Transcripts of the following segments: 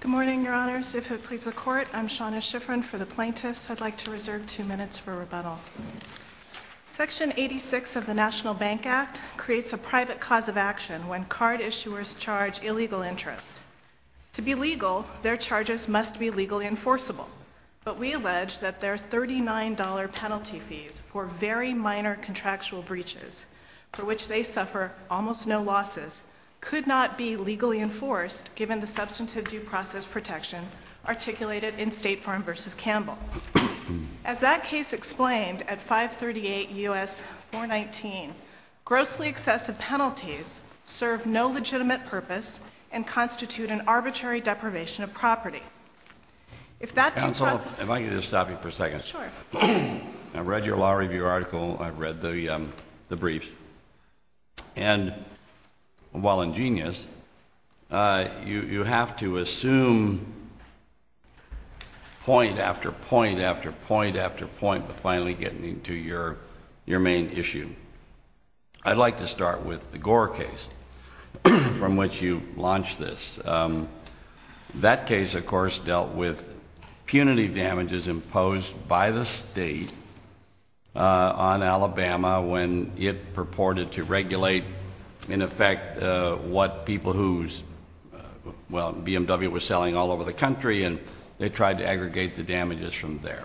Good morning, Your Honors. If it pleases the Court, I'm Shauna Shiffrin for the Plaintiffs. I'd like to reserve two minutes for rebuttal. Section 86 of the National Bank Act creates a private cause of action when card issuers charge illegal interest. To be legal, their charges must be legally enforceable, but we allege that their $39 penalty fees for very minor contractual breaches, for which they suffer almost no losses, could not be legally enforced given the substantive due process protection articulated in State Farm v. Campbell. As that case explained at 538 U.S. 419, grossly excessive penalties serve no legitimate purpose and constitute an arbitrary deprivation of property. Counsel, if I could just stop you for a second. Sure. I've read your law review article, I've read the briefs, and while ingenious, you have to assume point after point after point after point before finally getting into your main issue. I'd like to start with the Gore case from which you launched this. That case, of course, dealt with punitive damages imposed by the state on Alabama when it purported to regulate, in effect, what people whose, well, BMW was selling all over the country, and they tried to aggregate the damages from there.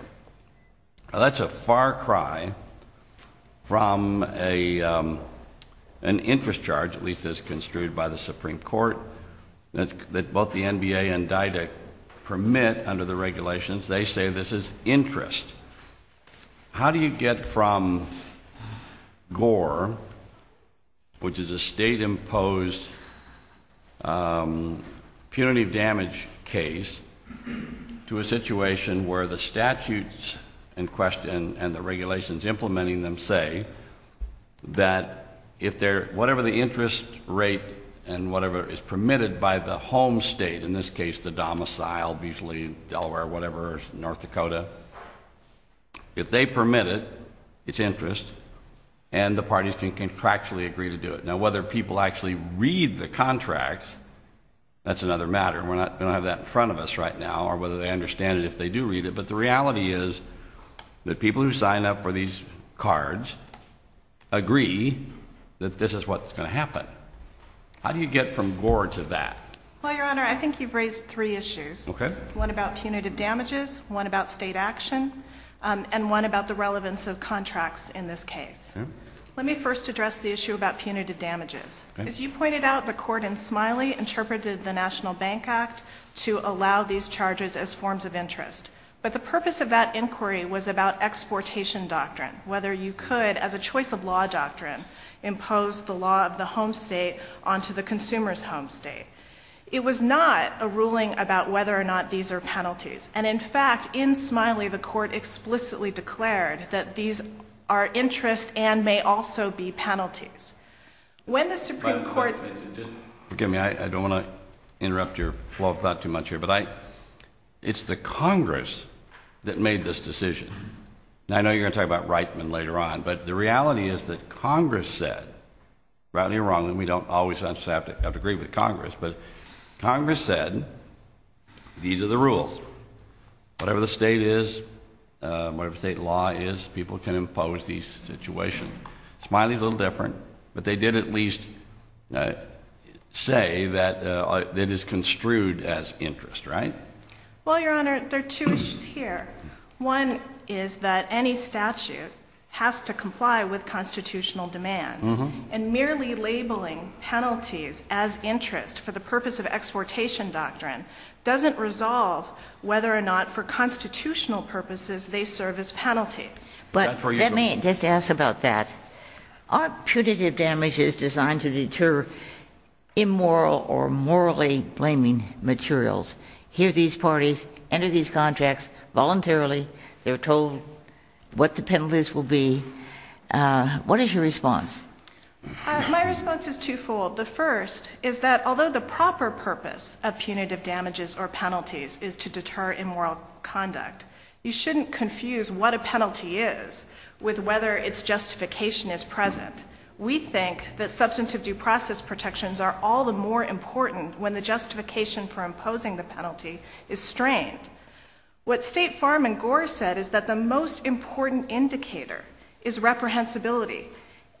That's a far cry from an interest charge, at least as construed by the Supreme Court, that both the NBA and Didact permit under the regulations. They say this is interest. How do you get from Gore, which is a state-imposed punitive damage case, to a situation where the statutes in question and the regulations implementing them say that whatever the interest rate and whatever is permitted by the home state, in this case the domicile, usually Delaware or whatever, North Dakota, if they permit it, it's interest, and the parties can contractually agree to do it. Now, whether people actually read the contracts, that's another matter. We don't have that in front of us right now, or whether they understand it if they do read it, but the reality is that people who sign up for these cards agree that this is what's going to happen. How do you get from Gore to that? Well, Your Honor, I think you've raised three issues. Okay. One about punitive damages, one about state action, and one about the relevance of contracts in this case. Okay. Let me first address the issue about punitive damages. Okay. As you pointed out, the court in Smiley interpreted the National Bank Act to allow these charges as forms of interest. But the purpose of that inquiry was about exportation doctrine, whether you could, as a choice of law doctrine, impose the law of the home state onto the consumer's home state. It was not a ruling about whether or not these are penalties. And, in fact, in Smiley, the court explicitly declared that these are interest and may also be penalties. When the Supreme Court— Forgive me. I don't want to interrupt your flow of thought too much here, but it's the Congress that made this decision. I know you're going to talk about Reitman later on, but the reality is that Congress said—rightly or wrongly, we don't always have to agree with Congress—but Congress said these are the rules. Whatever the state is, whatever the state law is, people can impose these situations. Smiley's a little different, but they did at least say that it is construed as interest, right? Well, Your Honor, there are two issues here. One is that any statute has to comply with constitutional demands, and merely labeling penalties as interest for the purpose of exportation doctrine doesn't resolve whether or not, for constitutional purposes, they serve as penalties. But let me just ask about that. Are punitive damages designed to deter immoral or morally blaming materials? Here, these parties enter these contracts voluntarily. They're told what the penalties will be. What is your response? My response is twofold. The first is that although the proper purpose of punitive damages or penalties is to deter immoral conduct, you shouldn't confuse what a penalty is with whether its justification is present. We think that substantive due process protections are all the more important when the justification for imposing the penalty is strained. What State Farm and Gore said is that the most important indicator is reprehensibility.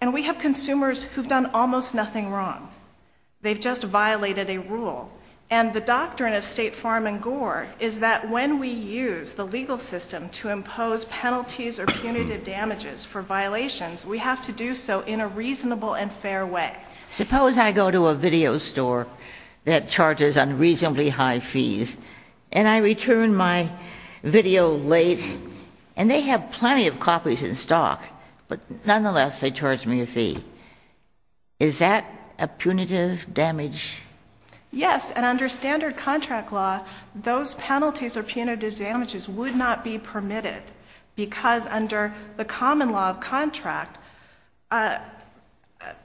And we have consumers who've done almost nothing wrong. They've just violated a rule. And the doctrine of State Farm and Gore is that when we use the legal system to impose penalties or punitive damages for violations, we have to do so in a reasonable and fair way. Suppose I go to a video store that charges unreasonably high fees, and I return my video late, and they have plenty of copies in stock. But nonetheless, they charge me a fee. Is that a punitive damage? Yes. And under standard contract law, those penalties or punitive damages would not be permitted, because under the common law of contract,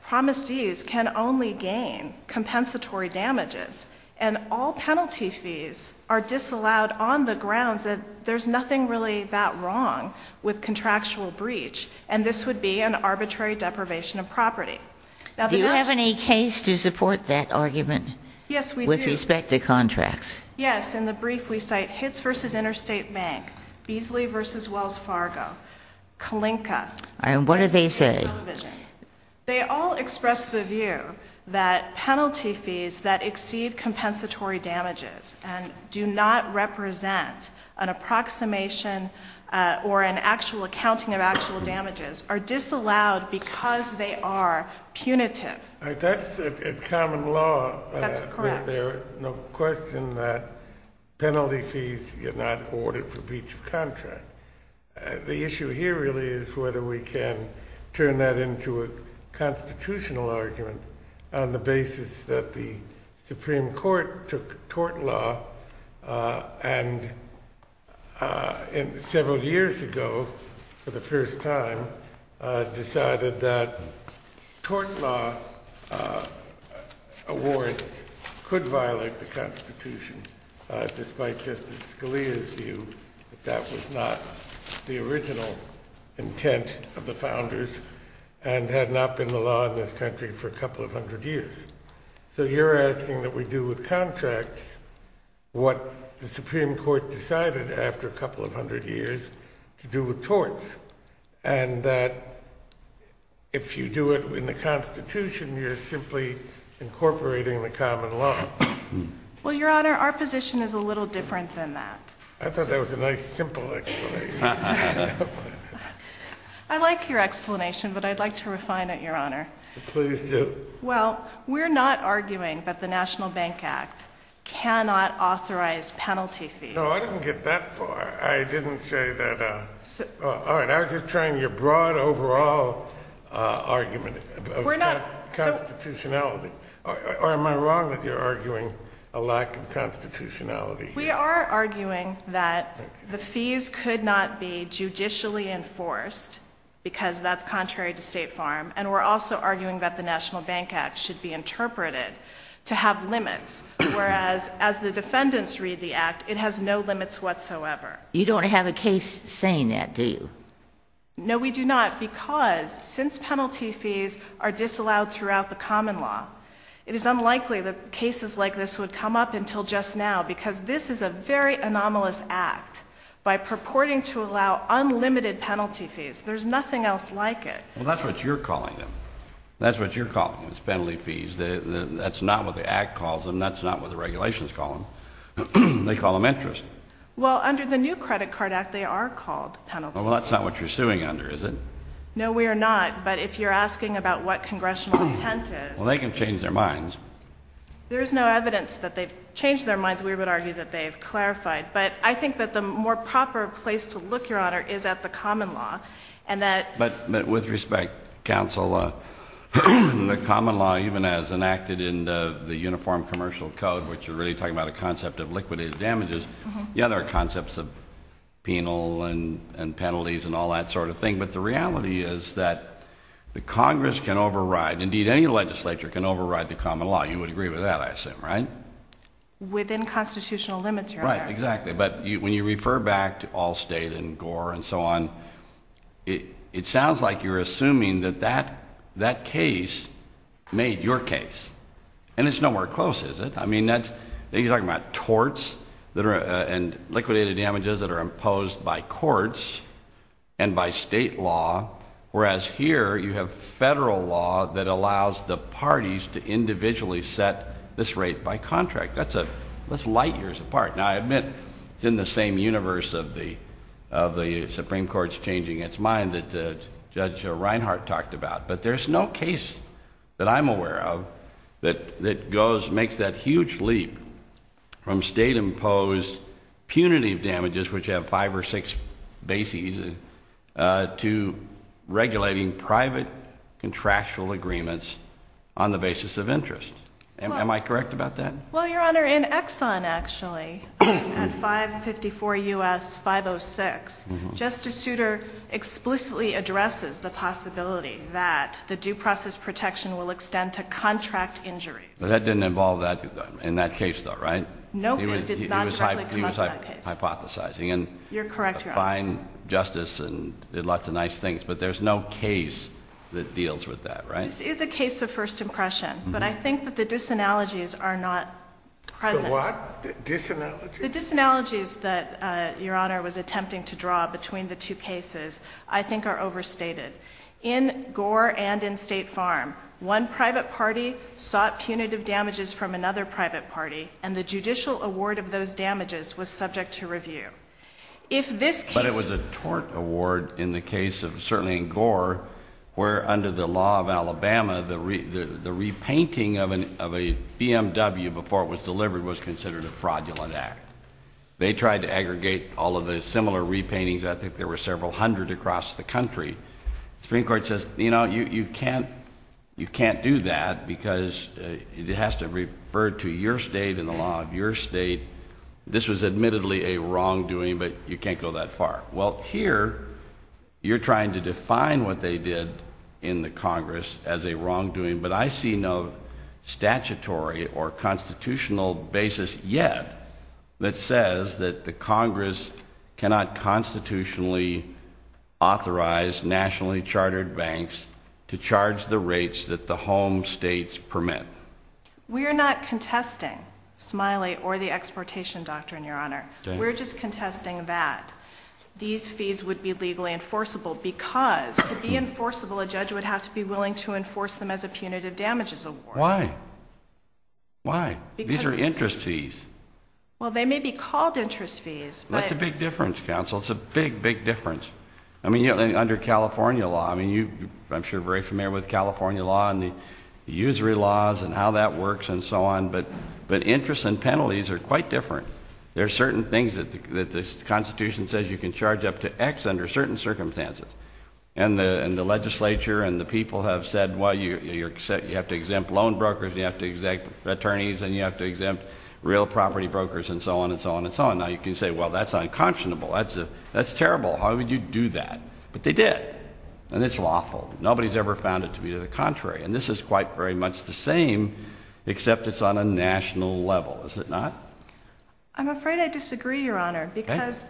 promisees can only gain compensatory damages. And all penalty fees are disallowed on the grounds that there's nothing really that wrong with contractual breach, and this would be an arbitrary deprivation of property. Do you have any case to support that argument? Yes, we do. With respect to contracts? Yes. In the brief, we cite Hitz v. Interstate Bank, Beasley v. Wells Fargo, Kalinka. And what do they say? They all express the view that penalty fees that exceed compensatory damages and do not represent an approximation or an actual accounting of actual damages are disallowed because they are punitive. That's common law. That's correct. There's no question that penalty fees are not awarded for breach of contract. The issue here really is whether we can turn that into a constitutional argument on the basis that the Supreme Court took tort law and several years ago, for the first time, decided that tort law awards could violate the Constitution, despite Justice Scalia's view that that was not the original intent of the founders and had not been the law in this country for a couple of hundred years. So you're asking that we do with contracts what the Supreme Court decided after a couple of hundred years to do with torts, and that if you do it in the Constitution, you're simply incorporating the common law. Well, Your Honor, our position is a little different than that. I thought that was a nice, simple explanation. I like your explanation, but I'd like to refine it, Your Honor. Please do. Well, we're not arguing that the National Bank Act cannot authorize penalty fees. No, I didn't get that far. I didn't say that. All right. I was just trying your broad overall argument about constitutionality. Or am I wrong that you're arguing a lack of constitutionality here? We are arguing that the fees could not be judicially enforced, because that's contrary to State Farm, and we're also arguing that the National Bank Act should be interpreted to have limits, whereas as the defendants read the Act, it has no limits whatsoever. You don't have a case saying that, do you? No, we do not, because since penalty fees are disallowed throughout the common law, it is unlikely that cases like this would come up until just now, because this is a very anomalous act. By purporting to allow unlimited penalty fees, there's nothing else like it. Well, that's what you're calling them. That's what you're calling those penalty fees. That's not what the Act calls them. That's not what the regulations call them. They call them interest. Well, under the new Credit Card Act, they are called penalty fees. Well, that's not what you're suing under, is it? No, we are not. But if you're asking about what congressional intent is — Well, they can change their minds. There's no evidence that they've changed their minds. We would argue that they've clarified. But I think that the more proper place to look, Your Honor, is at the common law, and that — But with respect, counsel, the common law, even as enacted in the Uniform Commercial Code, which you're really talking about a concept of liquidated damages, yeah, there are concepts of penal and penalties and all that sort of thing. But the reality is that the Congress can override — indeed, any legislature can override the common law. You would agree with that, I assume, right? Within constitutional limits, Your Honor. Right, exactly. But when you refer back to Allstate and Gore and so on, it sounds like you're assuming that that case made your case. And it's nowhere close, is it? I mean, you're talking about torts and liquidated damages that are imposed by courts and by state law, whereas here you have federal law that allows the parties to individually set this rate by contract. That's light years apart. Now, I admit it's in the same universe of the Supreme Court's changing its mind that Judge Reinhart talked about. But there's no case that I'm aware of that makes that huge leap from state-imposed punitive damages, which have five or six bases, to regulating private contractual agreements on the basis of interest. Am I correct about that? Well, Your Honor, in Exxon, actually, at 554 U.S. 506, Justice Souter explicitly addresses the possibility that the due process protection will extend to contract injuries. But that didn't involve that in that case, though, right? No, it did not directly come up in that case. He was hypothesizing and — You're correct, Your Honor. — defined justice and did lots of nice things. But there's no case that deals with that, right? This is a case of first impression. But I think that the disanalogies are not present. The what? Disanalogies? The disanalogies that Your Honor was attempting to draw between the two cases I think are overstated. In Gore and in State Farm, one private party sought punitive damages from another private party, and the judicial award of those damages was subject to review. If this case — in the case of — certainly in Gore, where under the law of Alabama, the repainting of a BMW before it was delivered was considered a fraudulent act. They tried to aggregate all of the similar repaintings. I think there were several hundred across the country. The Supreme Court says, you know, you can't do that because it has to refer to your state and the law of your state. This was admittedly a wrongdoing, but you can't go that far. Well, here, you're trying to define what they did in the Congress as a wrongdoing, but I see no statutory or constitutional basis yet that says that the Congress cannot constitutionally authorize nationally chartered banks to charge the rates that the home states permit. We are not contesting Smiley or the exportation doctrine, Your Honor. We're just contesting that. These fees would be legally enforceable because to be enforceable, a judge would have to be willing to enforce them as a punitive damages award. Why? Why? Because — These are interest fees. Well, they may be called interest fees, but — That's a big difference, counsel. It's a big, big difference. I mean, under California law, I mean, I'm sure you're very familiar with California law and the usury laws and how that works and so on, but interest and penalties are quite different. There are certain things that the Constitution says you can charge up to X under certain circumstances, and the legislature and the people have said, well, you have to exempt loan brokers, you have to exempt attorneys, and you have to exempt real property brokers and so on and so on and so on. Now, you can say, well, that's unconscionable. That's terrible. How would you do that? But they did, and it's lawful. Nobody's ever found it to be the contrary, and this is quite very much the same, except it's on a national level, is it not? I'm afraid I disagree, Your Honor, because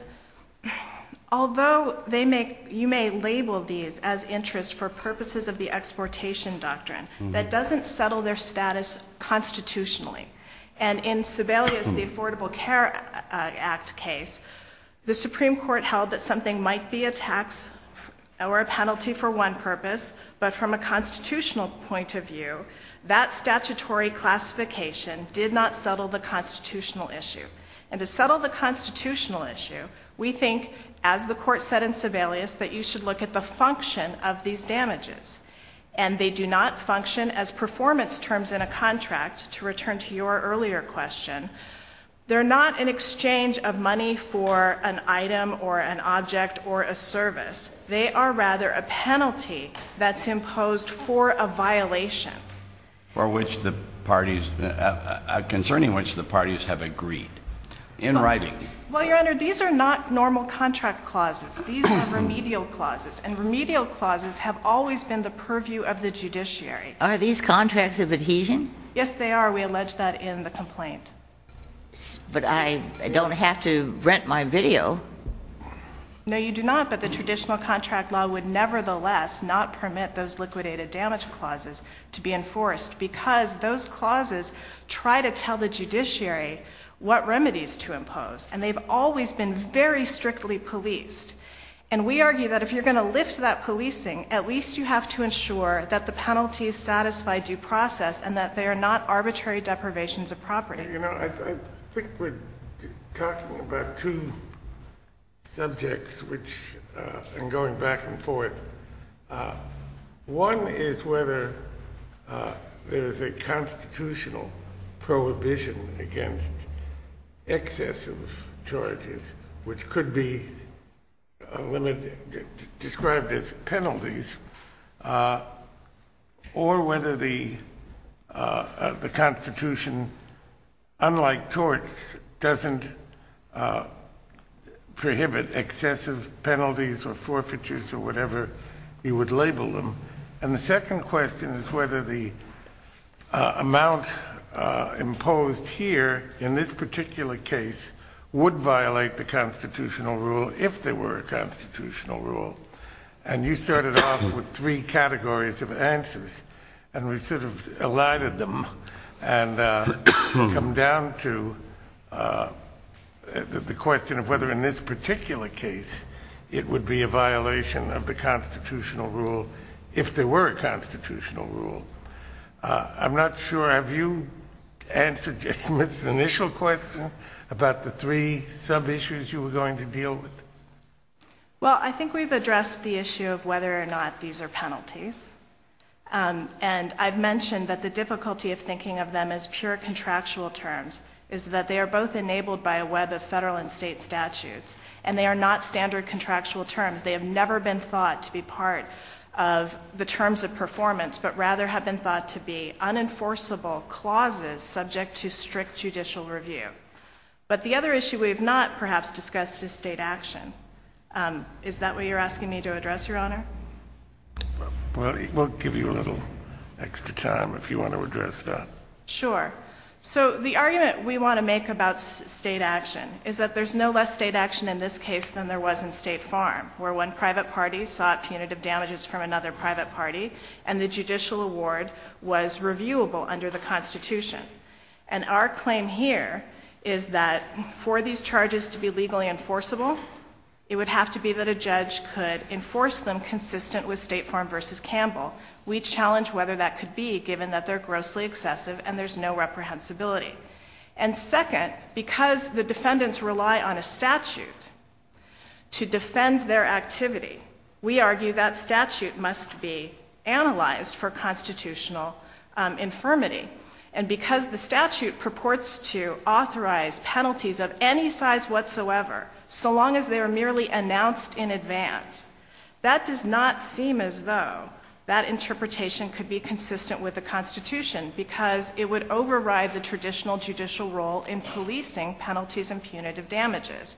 although you may label these as interest for purposes of the exportation doctrine, that doesn't settle their status constitutionally. And in Sebelius, the Affordable Care Act case, the Supreme Court held that something might be a tax or a penalty for one purpose, but from a constitutional point of view, that statutory classification did not settle the constitutional issue. And to settle the constitutional issue, we think, as the Court said in Sebelius, that you should look at the function of these damages, and they do not function as performance terms in a contract. To return to your earlier question, they're not an exchange of money for an item or an object or a service. They are rather a penalty that's imposed for a violation. For which the parties, concerning which the parties have agreed. In writing. Well, Your Honor, these are not normal contract clauses. These are remedial clauses, and remedial clauses have always been the purview of the judiciary. Are these contracts of adhesion? Yes, they are. We allege that in the complaint. But I don't have to rent my video. No, you do not. But the traditional contract law would nevertheless not permit those liquidated damage clauses to be enforced, because those clauses try to tell the judiciary what remedies to impose, and they've always been very strictly policed. And we argue that if you're going to lift that policing, at least you have to ensure that the penalties satisfy due process and that they are not arbitrary deprivations of property. Your Honor, I think we're talking about two subjects, and going back and forth. One is whether there is a constitutional prohibition against excessive charges, which could be described as penalties, or whether the Constitution, unlike torts, doesn't prohibit excessive penalties or forfeitures or whatever you would label them. And the second question is whether the amount imposed here in this particular case would violate the constitutional rule if there were a constitutional rule. And you started off with three categories of answers, and we sort of elided them and come down to the question of whether in this particular case it would be a violation of the constitutional rule if there were a constitutional rule. I'm not sure, have you answered this initial question about the three sub-issues you were going to deal with? Well, I think we've addressed the issue of whether or not these are penalties. And I've mentioned that the difficulty of thinking of them as pure contractual terms is that they are both enabled by a web of Federal and State statutes, and they are not standard contractual terms. They have never been thought to be part of the terms of performance, but rather have been thought to be unenforceable clauses subject to strict judicial review. But the other issue we have not perhaps discussed is State action. Is that what you're asking me to address, Your Honor? We'll give you a little extra time if you want to address that. Sure. So the argument we want to make about State action is that there's no less State action in this case than there was in State Farm, where one private party sought punitive damages from another private party, and the judicial award was reviewable under the Constitution. And our claim here is that for these charges to be legally enforceable, it would have to be that a judge could enforce them consistent with State Farm v. Campbell. We challenge whether that could be, given that they're grossly excessive and there's no reprehensibility. And second, because the defendants rely on a statute to defend their activity, we argue that statute must be analyzed for constitutional infirmity. And because the statute purports to authorize penalties of any size whatsoever, so long as they are merely announced in advance, that does not seem as though that interpretation could be consistent with the Constitution because it would override the traditional judicial role in policing penalties and punitive damages.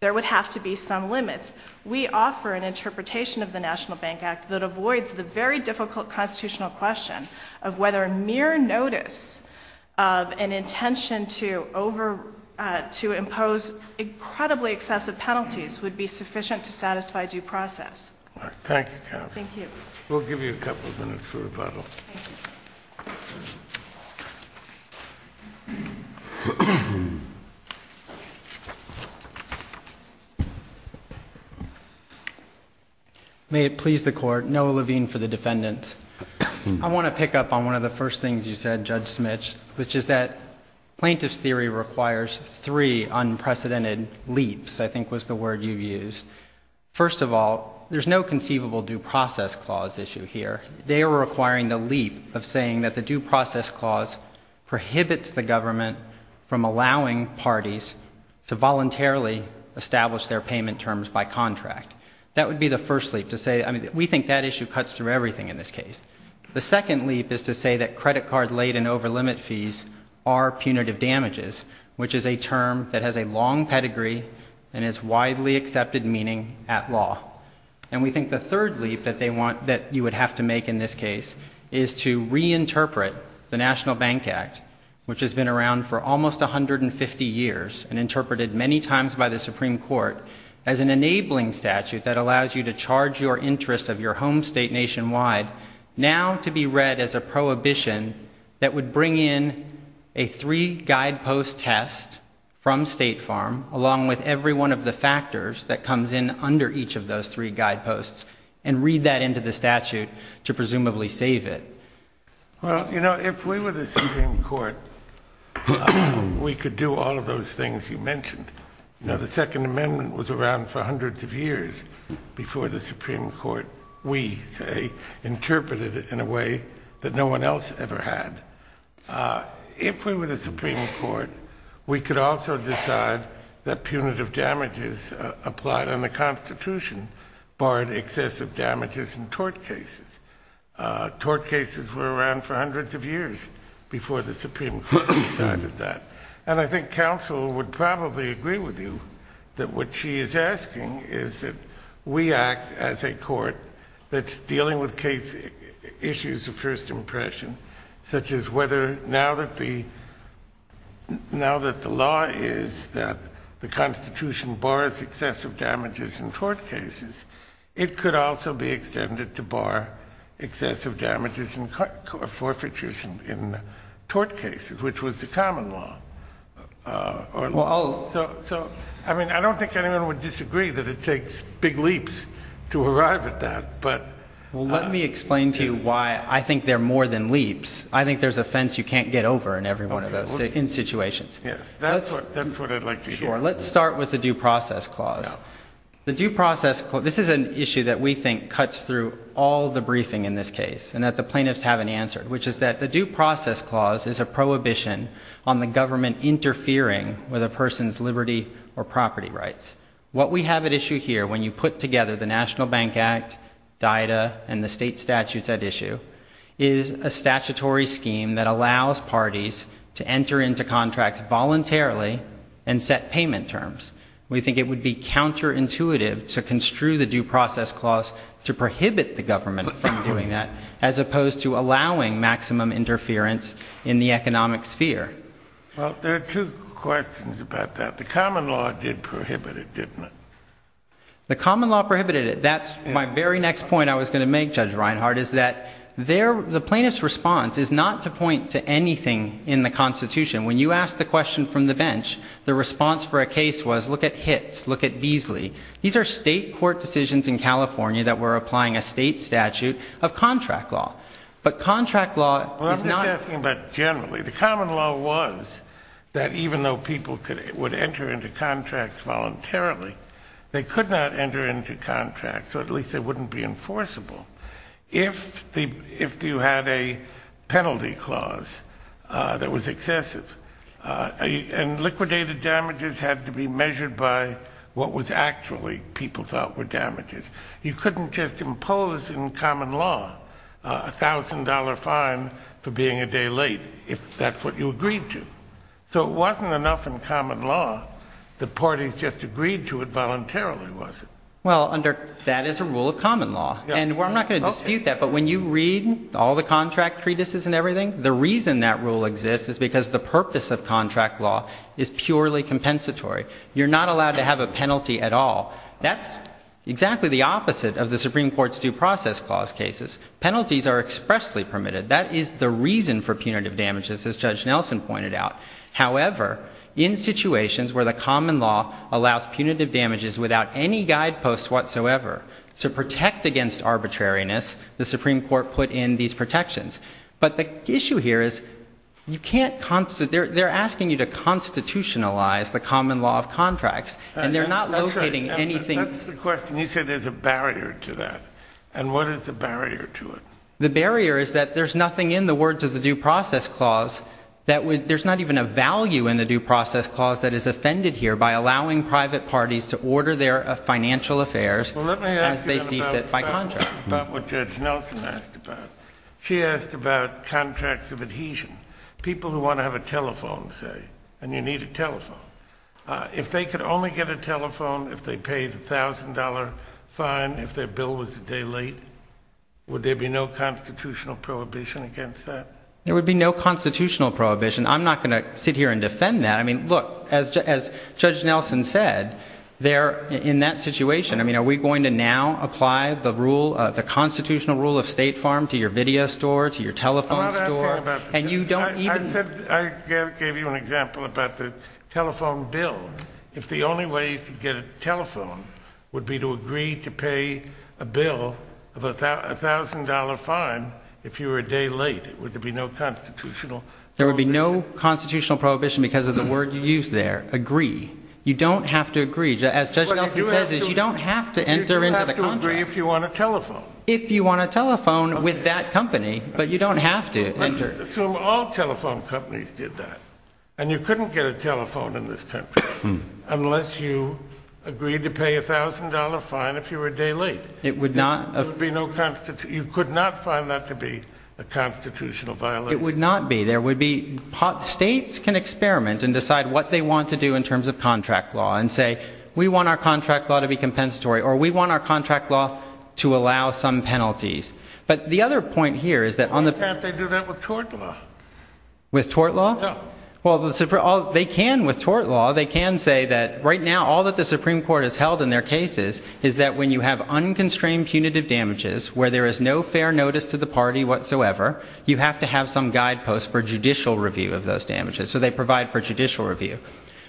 There would have to be some limits. We offer an interpretation of the National Bank Act that avoids the very difficult constitutional question of whether mere notice of an intention to impose incredibly excessive penalties would be sufficient to satisfy due process. Thank you, counsel. Thank you. We'll give you a couple of minutes for rebuttal. Thank you. May it please the Court, Noah Levine for the defendants. I want to pick up on one of the first things you said, Judge Smits, which is that plaintiff's theory requires three unprecedented leaves, I think was the word you used. First of all, there's no conceivable due process clause issue here. They are requiring the leap of saying that the due process clause prohibits the government from allowing parties to voluntarily establish their payment terms by contract. That would be the first leap to say, I mean, we think that issue cuts through everything in this case. The second leap is to say that credit card late and over limit fees are punitive damages, which is a term that has a long pedigree and is widely accepted meaning at law. And we think the third leap that you would have to make in this case is to reinterpret the National Bank Act, which has been around for almost 150 years and interpreted many times by the Supreme Court as an enabling statute that allows you to charge your interest of your home state nationwide, now to be read as a prohibition that would bring in a three-guidepost test from State Farm along with every one of the factors that comes in under each of those three guideposts and read that into the statute to presumably save it. Well, you know, if we were the Supreme Court, we could do all of those things you mentioned. You know, the Second Amendment was around for hundreds of years before the Supreme Court, we say, interpreted it in a way that no one else ever had. If we were the Supreme Court, we could also decide that punitive damages applied under the Constitution barred excessive damages in tort cases. Tort cases were around for hundreds of years before the Supreme Court decided that. And I think counsel would probably agree with you that what she is asking is that we act as a court that's dealing with issues of first impression, such as whether now that the law is that the Constitution bars excessive damages in tort cases, it could also be extended to bar excessive damages and forfeitures in tort cases, which was the common law. So, I mean, I don't think anyone would disagree that it takes big leaps to arrive at that. Well, let me explain to you why I think they're more than leaps. I think there's a fence you can't get over in every one of those situations. Yes, that's what I'd like to hear. Sure. Let's start with the Due Process Clause. This is an issue that we think cuts through all the briefing in this case and that the plaintiffs haven't answered, which is that the Due Process Clause is a prohibition on the government interfering with a person's liberty or property rights. What we have at issue here, when you put together the National Bank Act, DITA, and the state statutes at issue, is a statutory scheme that allows parties to enter into contracts voluntarily and set payment terms. We think it would be counterintuitive to construe the Due Process Clause to prohibit the government from doing that, as opposed to allowing maximum interference in the economic sphere. Well, there are two questions about that. The common law did prohibit it, didn't it? The common law prohibited it. That's my very next point I was going to make, Judge Reinhart, is that the plaintiff's response is not to point to anything in the Constitution. When you asked the question from the bench, the response for a case was, look at HITS, look at Beasley. These are state court decisions in California that were applying a state statute of contract law. But contract law is not... Well, I was just asking about generally. The common law was that even though people would enter into contracts voluntarily, they could not enter into contracts, or at least they wouldn't be enforceable, if you had a penalty clause that was excessive. And liquidated damages had to be measured by what was actually people thought were damages. You couldn't just impose in common law a $1,000 fine for being a day late, if that's what you agreed to. So it wasn't enough in common law that parties just agreed to it voluntarily, was it? Well, that is a rule of common law. And I'm not going to dispute that, but when you read all the contract treatises and everything, the reason that rule exists is because the purpose of contract law is purely compensatory. You're not allowed to have a penalty at all. That's exactly the opposite of the Supreme Court's Due Process Clause cases. Penalties are expressly permitted. That is the reason for punitive damages, as Judge Nelson pointed out. However, in situations where the common law allows punitive damages without any guideposts whatsoever to protect against arbitrariness, the Supreme Court put in these protections. But the issue here is they're asking you to constitutionalize the common law of contracts, and they're not locating anything. That's the question. You said there's a barrier to that. And what is the barrier to it? The barrier is that there's nothing in the words of the Due Process Clause. There's not even a value in the Due Process Clause that is offended here by allowing private parties to order their financial affairs as they see fit by contract. Let me ask you about what Judge Nelson asked about. She asked about contracts of adhesion, people who want to have a telephone, say, and you need a telephone. If they could only get a telephone if they paid a $1,000 fine if their bill was a day late, would there be no constitutional prohibition against that? There would be no constitutional prohibition. I'm not going to sit here and defend that. I mean, look, as Judge Nelson said, in that situation, I mean, are we going to now apply the constitutional rule of State Farm to your video store, to your telephone store? I'm not asking about that. I gave you an example about the telephone bill. If the only way you could get a telephone would be to agree to pay a bill of a $1,000 fine if you were a day late, would there be no constitutional prohibition? There would be no constitutional prohibition because of the word you used there, agree. You don't have to agree. As Judge Nelson says, you don't have to enter into the contract. You have to agree if you want a telephone. If you want a telephone with that company, but you don't have to enter. Let's assume all telephone companies did that, and you couldn't get a telephone in this country unless you agreed to pay a $1,000 fine if you were a day late. There would be no constitutional. You could not find that to be a constitutional violation. It would not be. States can experiment and decide what they want to do in terms of contract law and say we want our contract law to be compensatory, or we want our contract law to allow some penalties. But the other point here is that on the... Why can't they do that with tort law? With tort law? Yeah. Well, they can with tort law. They can say that right now all that the Supreme Court has held in their cases is that when you have unconstrained punitive damages where there is no fair notice to the party whatsoever, you have to have some guideposts for judicial review of those damages. So they provide for judicial review.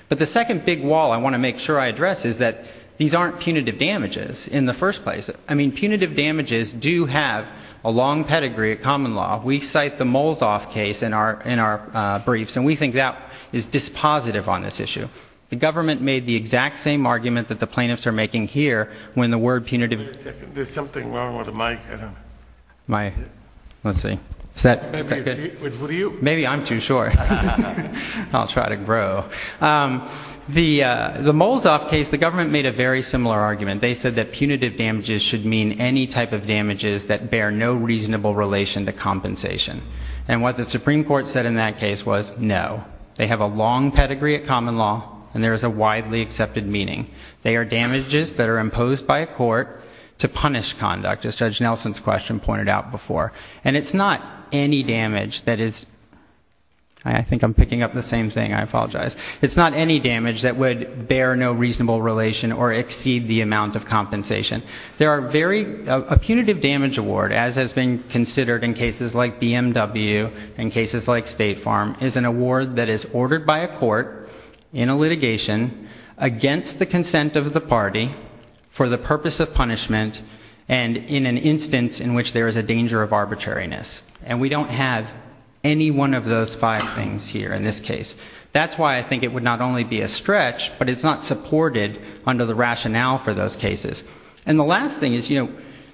But the second big wall I want to make sure I address is that these aren't punitive damages in the first place. I mean, punitive damages do have a long pedigree at common law. We cite the Moles-Off case in our briefs, and we think that is dispositive on this issue. The government made the exact same argument that the plaintiffs are making here when the word punitive... There's something wrong with the mic. Let's see. Maybe I'm too short. I'll try to grow. The Moles-Off case, the government made a very similar argument. They said that punitive damages should mean any type of damages that bear no reasonable relation to compensation. And what the Supreme Court said in that case was no. They have a long pedigree at common law, and there is a widely accepted meaning. They are damages that are imposed by a court to punish conduct, as Judge Nelson's question pointed out before. And it's not any damage that is... I think I'm picking up the same thing. I apologize. It's not any damage that would bear no reasonable relation or exceed the amount of compensation. There are very... A punitive damage award, as has been considered in cases like BMW and cases like State Farm, is an award that is ordered by a court in a litigation against the consent of the party for the purpose of punishment and in an instance in which there is a danger of arbitrariness. And we don't have any one of those five things here in this case. That's why I think it would not only be a stretch, but it's not supported under the rationale for those cases. And the last thing is, you know,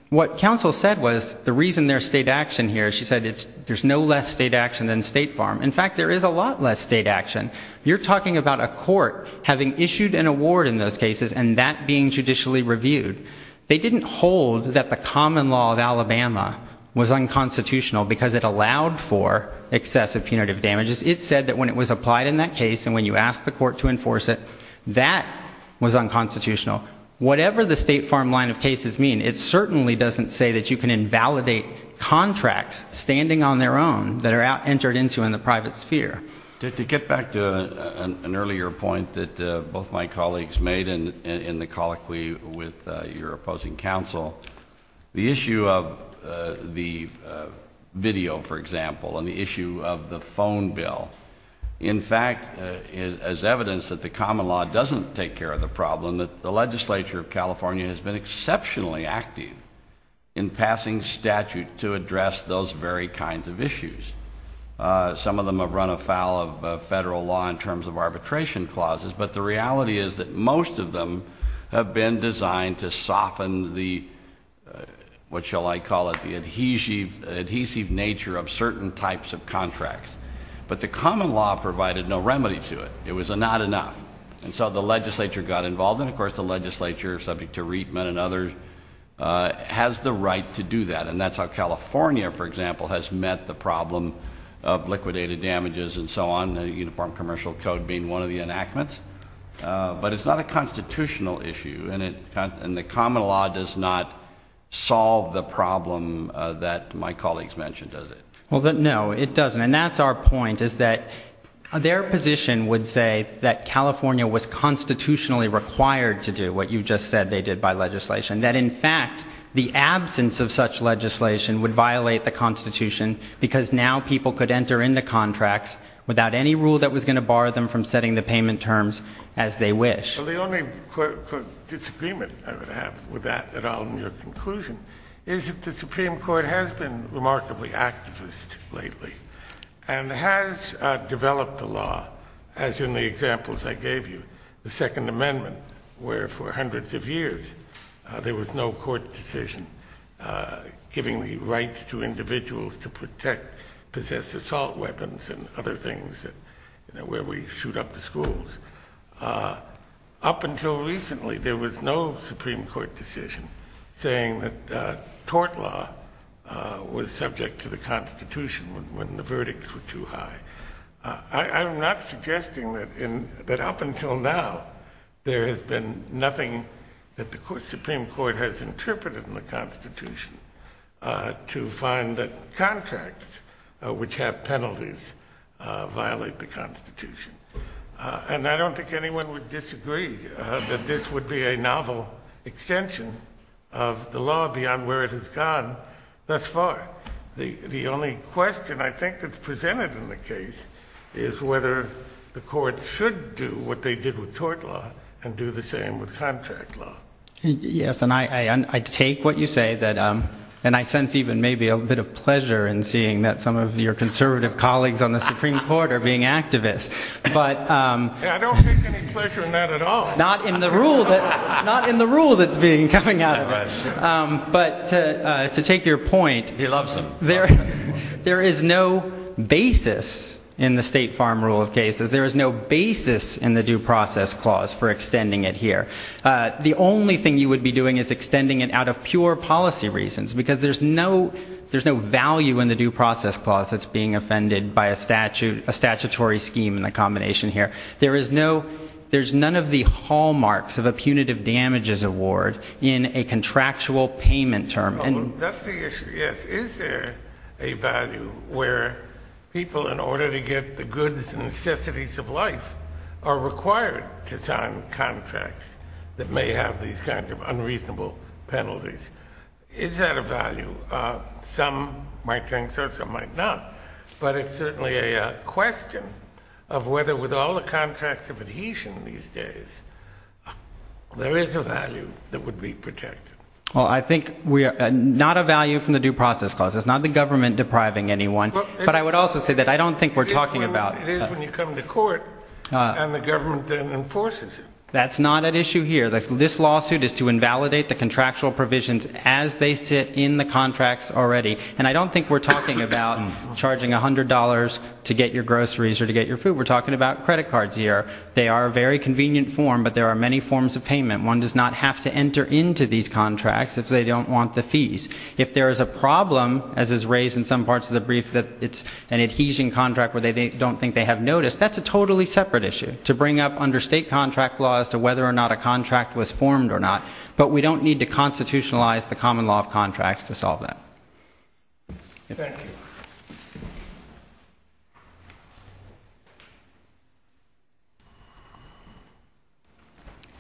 what counsel said was the reason there's state action here, she said there's no less state action than State Farm. In fact, there is a lot less state action. You're talking about a court having issued an award in those cases and that being judicially reviewed. They didn't hold that the common law of Alabama was unconstitutional because it allowed for excessive punitive damages. It said that when it was applied in that case and when you asked the court to enforce it, that was unconstitutional. Whatever the State Farm line of cases mean, it certainly doesn't say that you can invalidate contracts standing on their own that are entered into in the private sphere. To get back to an earlier point that both my colleagues made in the colloquy with your opposing counsel, the issue of the video, for example, and the issue of the phone bill, in fact, as evidence that the common law doesn't take care of the problem, the legislature of California has been exceptionally active in passing statute to address those very kinds of issues. Some of them have run afoul of federal law in terms of arbitration clauses, but the reality is that most of them have been designed to soften the, what shall I call it, the adhesive nature of certain types of contracts. But the common law provided no remedy to it. It was not enough. And so the legislature got involved, and of course the legislature, subject to Rietman and others, has the right to do that. And that's how California, for example, has met the problem of liquidated damages and so on, the Uniform Commercial Code being one of the enactments. But it's not a constitutional issue, and the common law does not solve the problem that my colleagues mentioned, does it? Well, no, it doesn't. And that's our point, is that their position would say that California was constitutionally required to do what you just said they did by legislation, that, in fact, the absence of such legislation would violate the Constitution because now people could enter into contracts without any rule that was going to bar them from setting the payment terms as they wish. Well, the only disagreement I would have with that at all in your conclusion is that the Supreme Court has been remarkably activist lately and has developed the law, as in the examples I gave you, the Second Amendment, where for hundreds of years there was no court decision giving the rights to individuals to protect possessed assault weapons and other things where we shoot up the schools. Up until recently there was no Supreme Court decision saying that tort law was subject to the Constitution when the verdicts were too high. I'm not suggesting that up until now there has been nothing that the Supreme Court has interpreted in the Constitution to find that contracts which have penalties violate the Constitution. And I don't think anyone would disagree that this would be a novel extension of the law beyond where it has gone thus far. The only question I think that's presented in the case is whether the courts should do what they did with tort law and do the same with contract law. Yes, and I take what you say. And I sense even maybe a bit of pleasure in seeing that some of your conservative colleagues on the Supreme Court are being activists. I don't take any pleasure in that at all. Not in the rule that's coming out of it. But to take your point, there is no basis in the State Farm Rule of Cases. There is no basis in the Due Process Clause for extending it here. The only thing you would be doing is extending it out of pure policy reasons, because there's no value in the Due Process Clause that's being offended by a statutory scheme in the combination here. There's none of the hallmarks of a punitive damages award in a contractual payment term. That's the issue, yes. Is there a value where people, in order to get the goods and necessities of life, are required to sign contracts that may have these kinds of unreasonable penalties? Is that a value? Some might think so, some might not. But it's certainly a question of whether with all the contracts of adhesion these days, there is a value that would be protected. Well, I think not a value from the Due Process Clause. It's not the government depriving anyone. But I would also say that I don't think we're talking about It is when you come to court and the government then enforces it. That's not an issue here. This lawsuit is to invalidate the contractual provisions as they sit in the contracts already. And I don't think we're talking about charging $100 to get your groceries or to get your food. We're talking about credit cards here. They are a very convenient form, but there are many forms of payment. One does not have to enter into these contracts if they don't want the fees. If there is a problem, as is raised in some parts of the brief, that it's an adhesion contract where they don't think they have notice, that's a totally separate issue to bring up under state contract law as to whether or not a contract was formed or not. But we don't need to constitutionalize the common law of contracts to solve that. Thank you.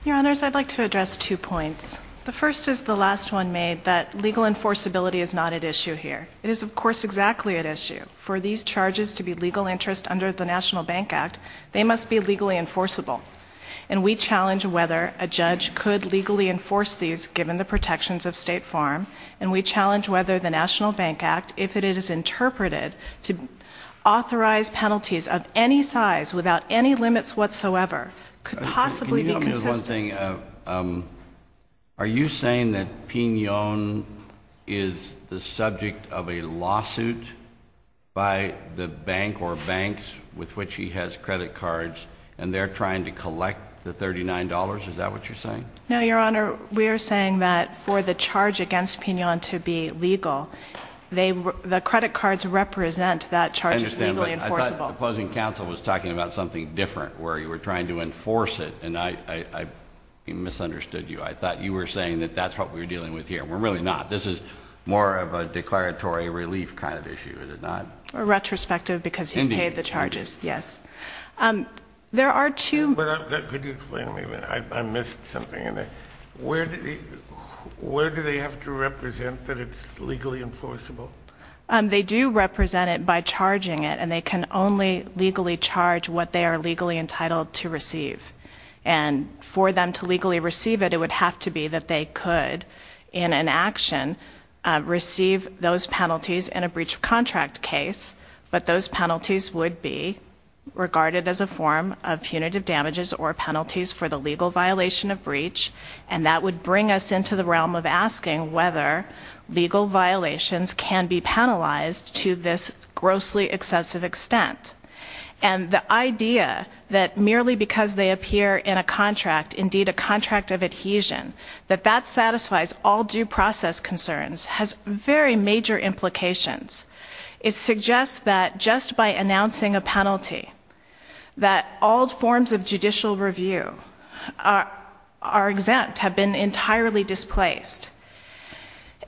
Your Honors, I'd like to address two points. The first is the last one made, that legal enforceability is not at issue here. It is, of course, exactly at issue. For these charges to be legal interest under the National Bank Act, they must be legally enforceable. And we challenge whether a judge could legally enforce these, given the protections of State Farm. And we challenge whether the National Bank Act, if it is interpreted to authorize penalties of any size, without any limits whatsoever, could possibly be consistent. Can you tell me one thing? Are you saying that Pinon is the subject of a lawsuit by the bank or banks with which he has credit cards, and they're trying to collect the $39? Is that what you're saying? No, Your Honor. We are saying that for the charge against Pinon to be legal, the credit cards represent that charge is legally enforceable. I understand. But I thought the opposing counsel was talking about something different, where you were trying to enforce it. And I misunderstood you. I thought you were saying that that's what we're dealing with here. We're really not. This is more of a declaratory relief kind of issue, is it not? A retrospective, because he's paid the charges. Indeed. Yes. Could you explain to me? I missed something. Where do they have to represent that it's legally enforceable? They do represent it by charging it, and they can only legally charge what they are legally entitled to receive. And for them to legally receive it, it would have to be that they could, in an action, receive those penalties in a breach of contract case, but those penalties would be regarded as a form of punitive damages or penalties for the legal violation of breach. And that would bring us into the realm of asking whether legal violations can be penalized to this grossly excessive extent. And the idea that merely because they appear in a contract, indeed a contract of adhesion, that that satisfies all due process concerns has very major implications. It suggests that just by announcing a penalty, that all forms of judicial review are exempt, have been entirely displaced.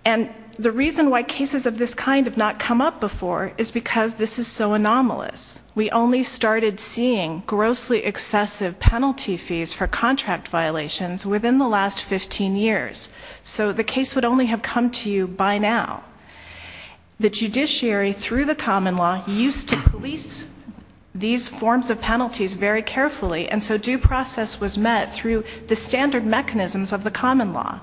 And the reason why cases of this kind have not come up before is because this is so anomalous. We only started seeing grossly excessive penalty fees for contract violations within the last 15 years. So the case would only have come to you by now. The judiciary, through the common law, used to police these forms of penalties very carefully, and so due process was met through the standard mechanisms of the common law.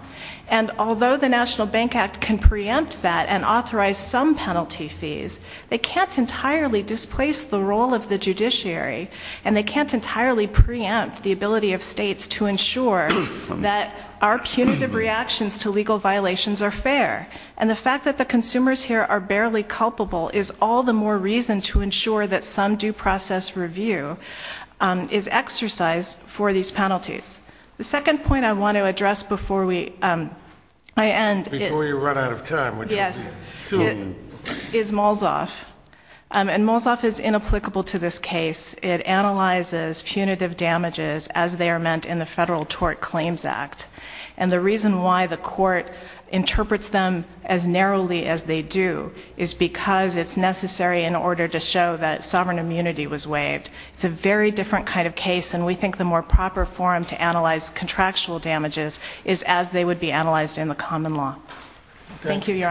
And although the National Bank Act can preempt that and authorize some penalty fees, they can't entirely displace the role of the judiciary, and they can't entirely preempt the ability of states to ensure that our punitive reactions to legal violations are fair. And the fact that the consumers here are barely culpable is all the more reason to ensure that some due process review is exercised for these penalties. The second point I want to address before we end. Before you run out of time, which will be soon. Yes. Is Molzoff. And Molzoff is inapplicable to this case. It analyzes punitive damages as they are meant in the Federal Tort Claims Act. And the reason why the court interprets them as narrowly as they do is because it's necessary in order to show that sovereign immunity was waived. It's a very different kind of case, and we think the more proper forum to analyze contractual damages is as they would be analyzed in the common law. Thank you, Your Honor.